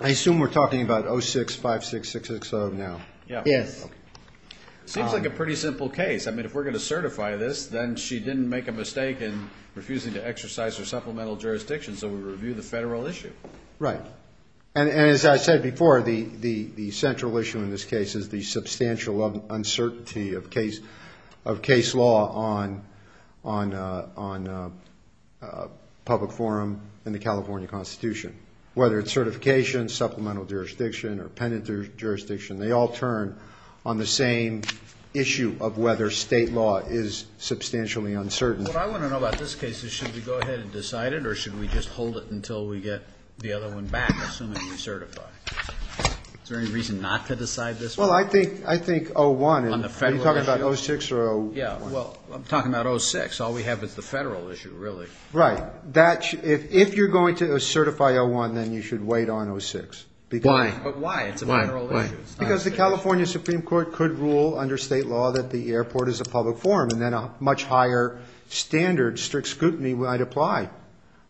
I assume we're talking about 06-56-660 now. Yeah. Yes. Seems like a pretty simple case. I mean, if we're going to certify this, then she didn't make a mistake in refusing to exercise her supplemental jurisdiction. So we review the federal issue. Right. And as I said before, the, the, the central issue in this case is the substantial uncertainty of case of case law on, on, on a public forum in California constitution, whether it's certification, supplemental jurisdiction, or penitent jurisdiction. They all turn on the same issue of whether state law is substantially uncertain. What I want to know about this case is should we go ahead and decide it or should we just hold it until we get the other one back? Assuming we certify. Is there any reason not to decide this? Well, I think, I think 0-1. On the federal issue. Are you talking about 0-6 or 0-1? Yeah, well, I'm talking about 0-6. All we have is the federal issue, really. Right. That, if, if you're going to certify 0-1, then you should wait on 0-6. Why? But why? It's a federal issue. Because the California Supreme Court could rule under state law that the airport is a public forum and then a much higher standard strict scrutiny might apply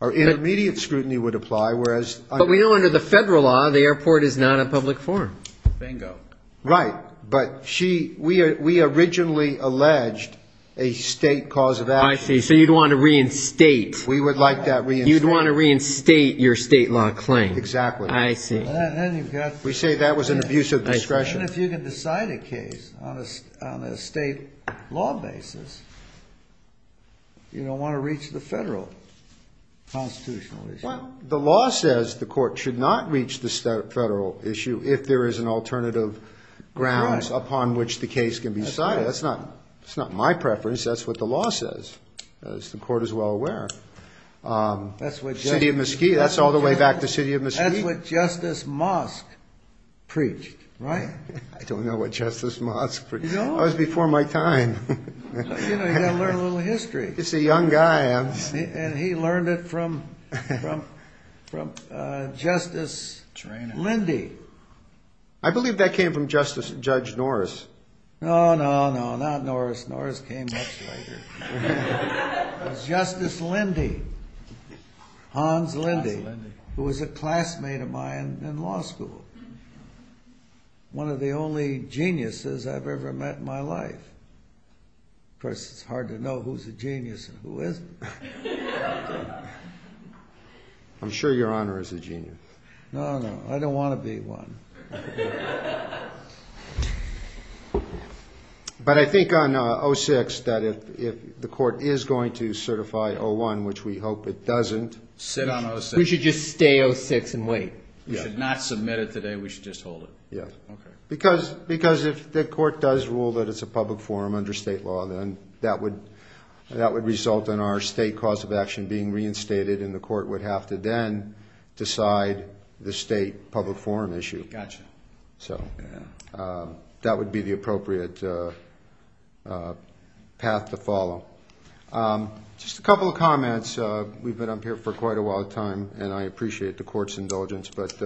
or intermediate scrutiny would apply. Whereas. But we know under the federal law, the airport is not a public forum. Bingo. Right. But she, we, we originally alleged a state cause of action. I see. So you'd want to reinstate. We would like that reinstate. You'd want to reinstate your state law claim. Exactly. I see. We say that was an abuse of discretion. Even if you can decide a case on a state law basis, you don't want to reach the federal constitutional issue. Well, the law says the court should not reach the federal issue if there is an alternative grounds upon which the case can be decided. That's not, it's not my preference. That's what the law says, as the court is well aware. That's what. City of Mesquite. That's all the way back to City of Mesquite. That's what Justice Mosk preached. Right? I don't know what Justice Mosk preached. You don't? That was before my time. You know, you got to learn a little history. He's a young guy. And he learned it from, from, from Justice Lindy. I believe that came from Justice, Judge Norris. No, no, no, not Norris. Norris came much later. It was Justice Lindy, Hans Lindy, who was a classmate of mine in law school. One of the only geniuses I've ever met in my life. Of course, it's hard to know who's a genius and who isn't. I'm sure your honor is a genius. No, no, I don't want to be one. But I think on 06, that if the court is going to certify 01, which we hope it doesn't. Sit on 06. We should just stay 06 and wait. We should not submit it today. We should just hold it. Yeah. Okay. Because, because if the court does rule that it's a public forum under state law, then that would, that would result in our state cause of action being reinstated. And the court would have to then decide the state public forum issue. Gotcha. So that would be the appropriate path to follow. Just a couple of comments. We've been up here for quite a while time and I appreciate the court's indulgence, but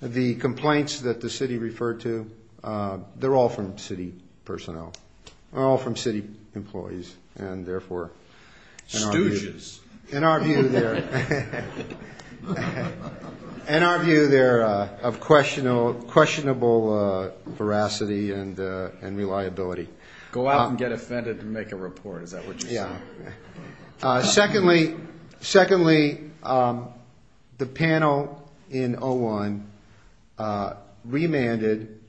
the complaints that the city referred to, they're all from city personnel. They're all from city employees. And therefore, in our view, in our view there, in our view there of questionable, questionable veracity and, and reliability. Go out and get offended to make a report. Is that what you're saying? Yeah. Secondly, secondly, the panel in 01 remanded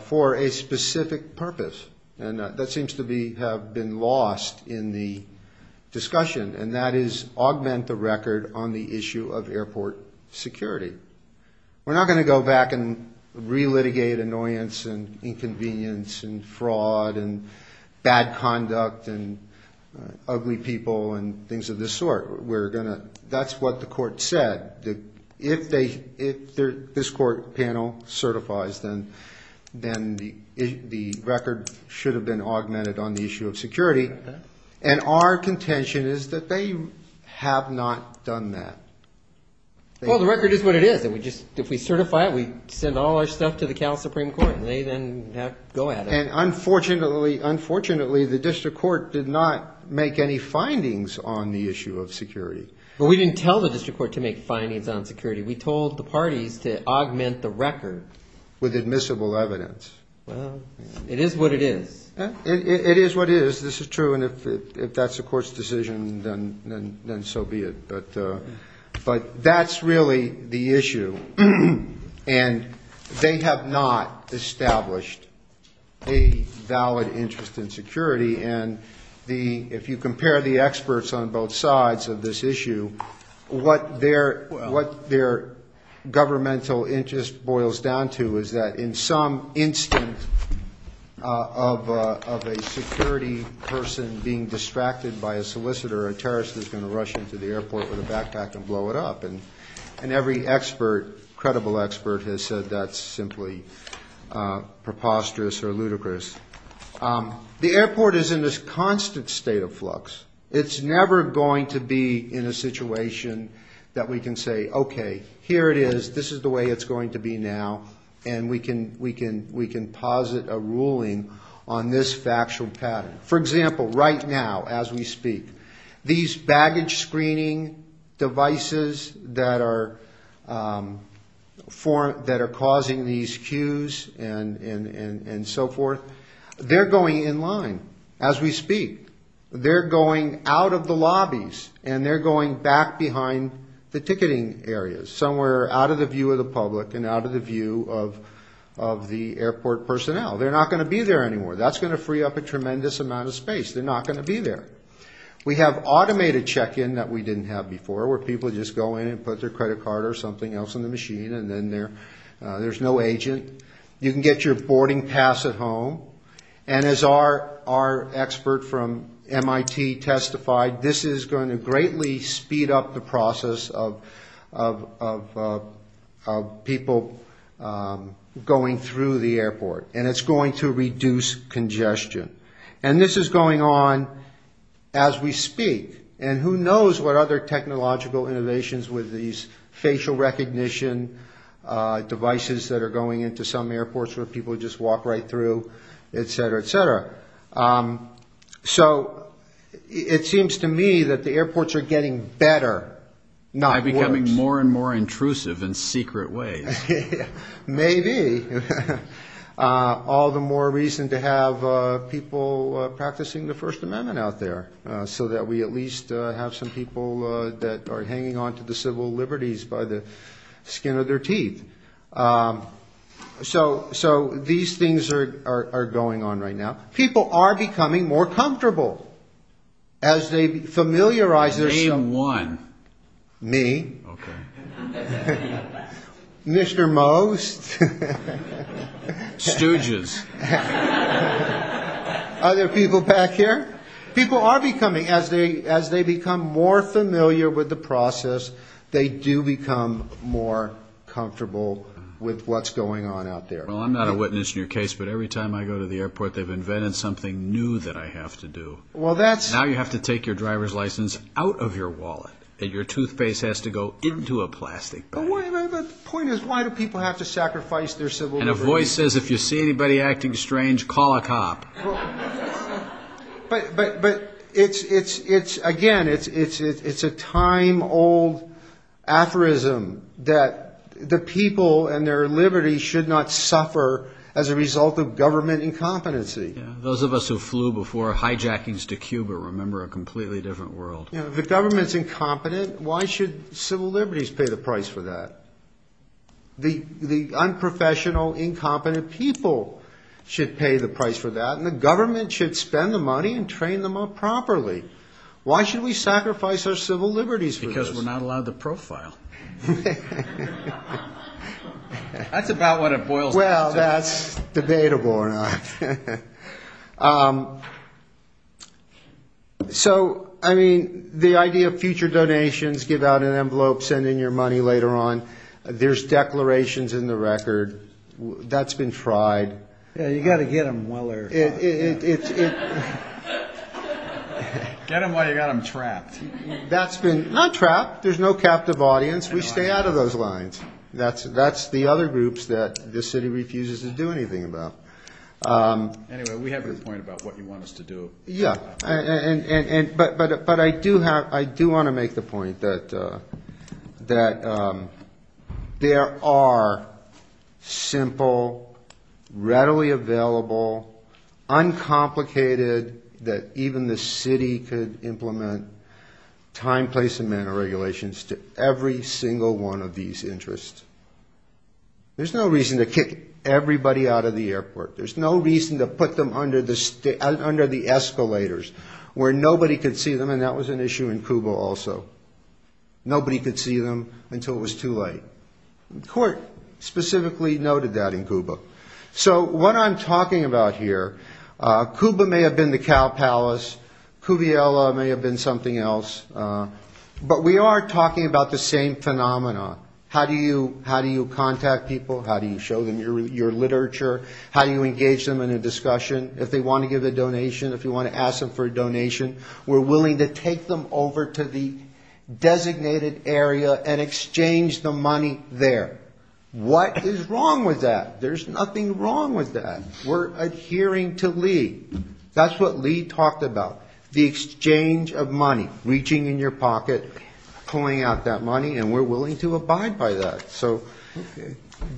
for a specific purpose. And that seems to be, have been lost in the discussion. And that is augment the record on the issue of airport security. We're not going to go back and re-litigate annoyance and inconvenience and fraud and bad conduct and ugly people and things of this sort. We're going to, that's what the court said. If they, if this court panel certifies, then, then the record should have been augmented on the issue of security. And our contention is that they have not done that. Well, the record is what it is. And we just, if we certify it, we send all our stuff to the Cal Supreme Court and they then go at it. And unfortunately, unfortunately, the district court did not make any findings on the issue of security. But we didn't tell the district court to make findings on security. We told the parties to augment the record with admissible evidence. Well, it is what it is. It is what it is. This is true. And if that's the court's decision, then so be it. But, but that's really the issue. And they have not established a valid interest in security. And the, if you compare the experts on both sides of this issue, what their, what their governmental interest boils down to is that in some instant of a security person being distracted by a solicitor, a terrorist is going to rush into the airport with a backpack and blow it up. And, and every expert, credible expert has said that's simply preposterous or ludicrous. The airport is in this constant state of flux. It's never going to be in a situation that we can say, okay, here it is. This is the way it's going to be now. And we can, we can, we can posit a ruling on this factual pattern. For example, right now, as we speak, these baggage screening devices that are for, that are causing these queues and, and, and, and so forth, they're going in line as we speak. They're going out of the lobbies and they're going back behind the ticketing areas, somewhere out of the view of the public and out of the view of, of the airport personnel. They're not going to be there anymore. That's going to free up a tremendous amount of space. They're not going to be there. We have automated check-in that we didn't have before, where people just go in and put their credit card or something else in the machine and then they're, there's no agent. You can get your boarding pass at home. And as our, our expert from MIT testified, this is going to greatly speed up the process of, of, of, of people going through the airport. And it's going to reduce congestion. And this is going on as we speak. And who knows what other technological innovations with these facial recognition devices that are going into some airports where people just walk right through, et cetera, et cetera. So it seems to me that the airports are getting better, not worse. By becoming more and more intrusive in secret ways. Maybe. All the more reason to have people practicing the first amendment out there. So that we at least have some people that are hanging on to the civil liberties by the skin of their teeth. So, so these things are, are going on right now. People are becoming more comfortable. As they familiarize. Name one. Me. Mr. Most. Stooges. Other people back here. People are becoming as they, as they become more familiar with the process, they do become more comfortable with what's going on out there. Well, I'm not a witness in your case, but every time I go to the airport, they've invented something new that I have to do. Well, that's how you have to take your driver's license out of your wallet and your toothpaste has to go into a plastic bag. The point is, why do people have to sacrifice their civil liberties? And a voice says, if you see anybody acting strange, call a cop. But, but, but it's, it's, it's, again, it's, it's, it's, it's a time old aphorism that the people and their liberty should not suffer as a result of government incompetency. Yeah, those of us who flew before hijackings to Cuba remember a completely different world. The government's incompetent. Why should civil liberties pay the price for that? The, the unprofessional, incompetent people should pay the price for that. And the government should spend the money and train them up properly. Why should we sacrifice our civil liberties? Because we're not allowed to profile. That's about what it boils down to. Well, that's debatable or not. So, I mean, the idea of future donations, give out an envelope, send in your money later on, there's declarations in the record, that's been tried. Yeah, you got to get them while they're, get them while you got them trapped. That's been, not trapped. There's no captive audience. We stay out of those lines. That's, that's the other groups that this city refuses to do anything about. Anyway, we have your point about what you want us to do. Yeah, and, and, and, but, but, but I do have, I do want to make the point that, that there are simple, readily available, uncomplicated, that even the city could implement, time, place, and manner regulations to every single one of these interests. There's no reason to kick everybody out of the airport. There's no reason to put them under the, under the escalators, where nobody could see them, and that was an issue in Cuba also. Nobody could see them until it was too late. Court specifically noted that in Cuba. So, what I'm talking about here, Cuba may have been the cow palace, Cuviela may have been something else, but we are talking about the same phenomenon. How do you, how do you contact people? How do you show them your, your literature? How do you engage them in a discussion? If they want to give a donation, if you want to ask them for a donation, we're willing to take them over to the designated area and exchange the money there. What is wrong with that? There's nothing wrong with that. We're adhering to Lee. That's what Lee talked about, the exchange of money, reaching in your pocket, pulling out that money, and we're willing to abide by that. So,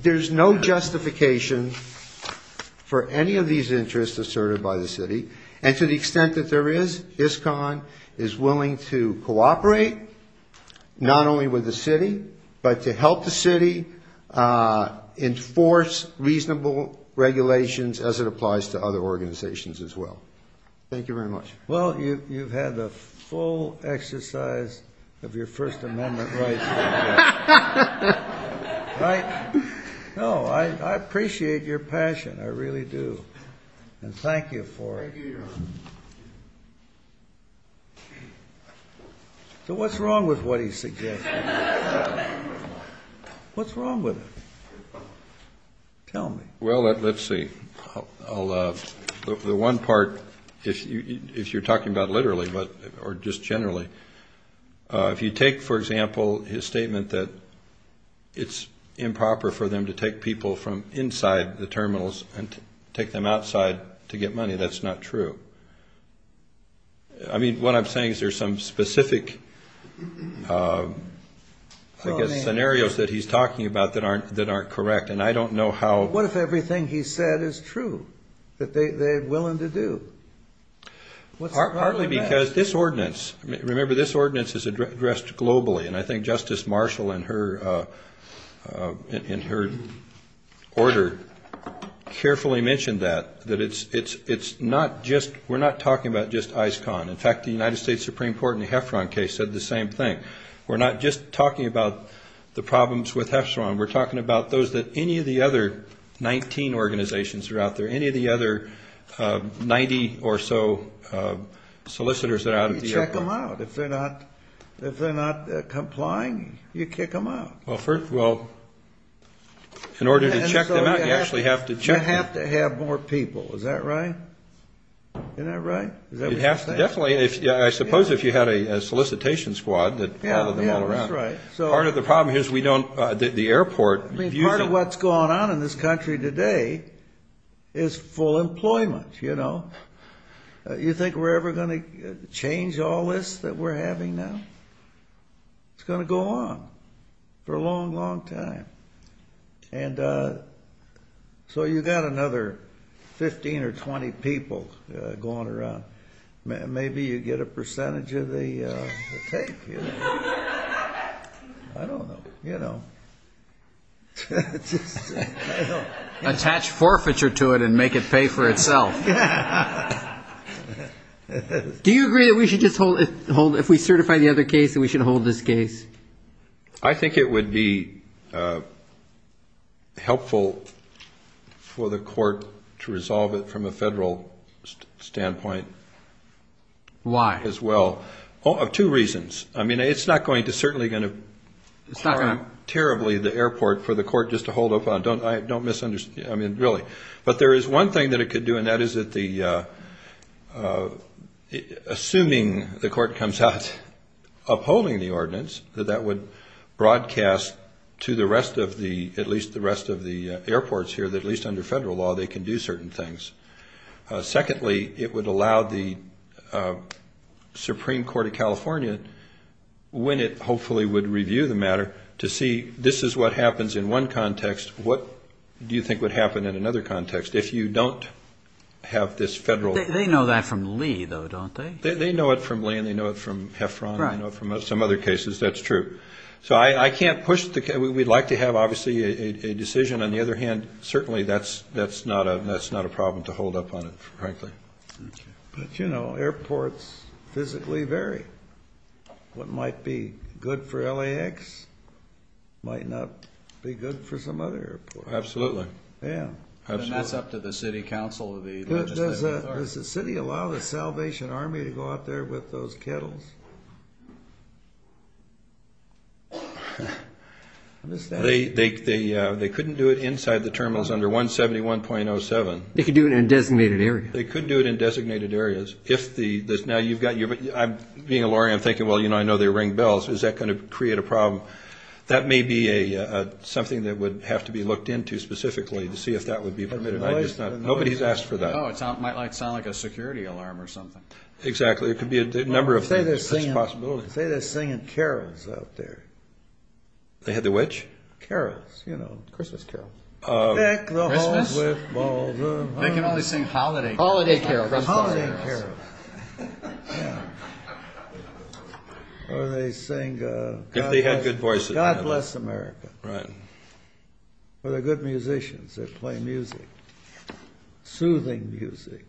there's no justification for any of these interests asserted by the city. And to the extent that there is, ISCON is willing to cooperate, not only with the city, but to help the city enforce reasonable regulations as it applies to other organizations as well. Thank you very much. Well, you've had the full exercise of your First Amendment rights. Right? No, I appreciate your passion. I really do. And thank you for it. So, what's wrong with what he's suggesting? What's wrong with it? Tell me. Well, let's see. I'll, the one part, if you're talking about literally, but, or just generally, if you take, for example, his statement that it's improper for them to take people from inside the terminals and take them outside to get money, that's not true. I mean, what I'm saying is there's some specific, I guess, scenarios that he's talking about that aren't correct. And I don't know how... What if everything he said is true? That they're willing to do? Partly because this ordinance, remember this ordinance is addressed globally. And I think Justice Marshall, in her order, carefully mentioned that, that it's not just, we're not talking about just ICON. In fact, the United States Supreme Court in the Heffron case said the same thing. We're not just talking about the problems with Heffron. We're talking about those that any of the other 19 organizations are out there, any of the other 90 or so solicitors that are out there. You check them out. If they're not, if they're not complying, you kick them out. Well, first, well, in order to check them out, you actually have to check them. You have to have more people. Is that right? Isn't that right? You have to, definitely. I suppose if you had a solicitation squad that followed them all around. Yeah, that's right. Part of the problem is we don't, the airport... I mean, part of what's going on in this country today is full employment, you know. You think we're ever going to change all this that we're having now? It's going to go on for a long, long time. And so you've got another 15 or 20 people going around. Maybe you get a percentage of the take. I don't know, you know. Attach forfeiture to it and make it pay for itself. Do you agree that we should just hold, if we certify the other case, that we should hold this case? I think it would be helpful for the court to resolve it from a federal standpoint. Why? As well. Oh, two reasons. I mean, it's not going to certainly going to harm terribly the airport for the court just to hold up on. I don't misunderstand. I mean, really. But there is one thing that it could do, and that is that the... Assuming the court comes out upholding the ordinance, that that would broadcast to the rest of the, at least the rest of the airports here, that at least under federal law, they can do certain things. Secondly, it would allow the Supreme Court of California, when it hopefully would review the matter, to see this is what happens in one context, what do you think would happen in another context, if you don't have this federal... They know that from Lee, though, don't they? They know it from Lee, and they know it from Heffron, and they know it from some other cases, that's true. So I can't push the case. We'd like to have, obviously, a decision. On the other hand, certainly that's not a problem to hold up on it, frankly. But, you know, airports physically vary. What might be good for LAX might not be good for some other airport. Absolutely. Yeah. And that's up to the city council, the legislative authority. Does the city allow the Salvation Army to go out there with those kettles? They couldn't do it inside the terminals under 171.07. They could do it in a designated area. They could do it in designated areas. Now, being a lawyer, I'm thinking, well, you know, I know they ring bells. Is that going to create a problem? That may be something that would have to be looked into specifically to see if that would be permitted. Nobody's asked for that. Oh, it might sound like a security alarm or something. Exactly. There could be a number of possibilities. Say they're singing carols out there. They have the which? Carols, you know, Christmas carols. Christmas? They can only sing holiday carols. Holiday carols. Holiday carols. Or they sing God Bless America. Right. Or they're good musicians that play music, soothing music.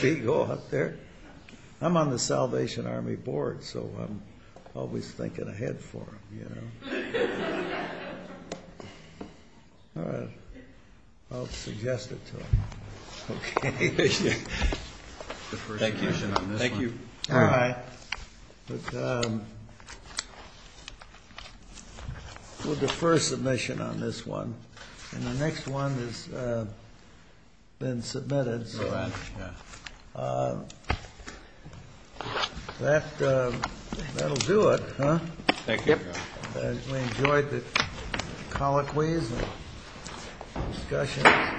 They go out there. I'm on the Salvation Army board, so I'm always thinking ahead for them, you know. All right. I'll suggest it to them. Thank you. Thank you. All right. We'll defer submission on this one. And the next one has been submitted. All right, yeah. That'll do it, huh? Thank you. We enjoyed the colloquies and discussion.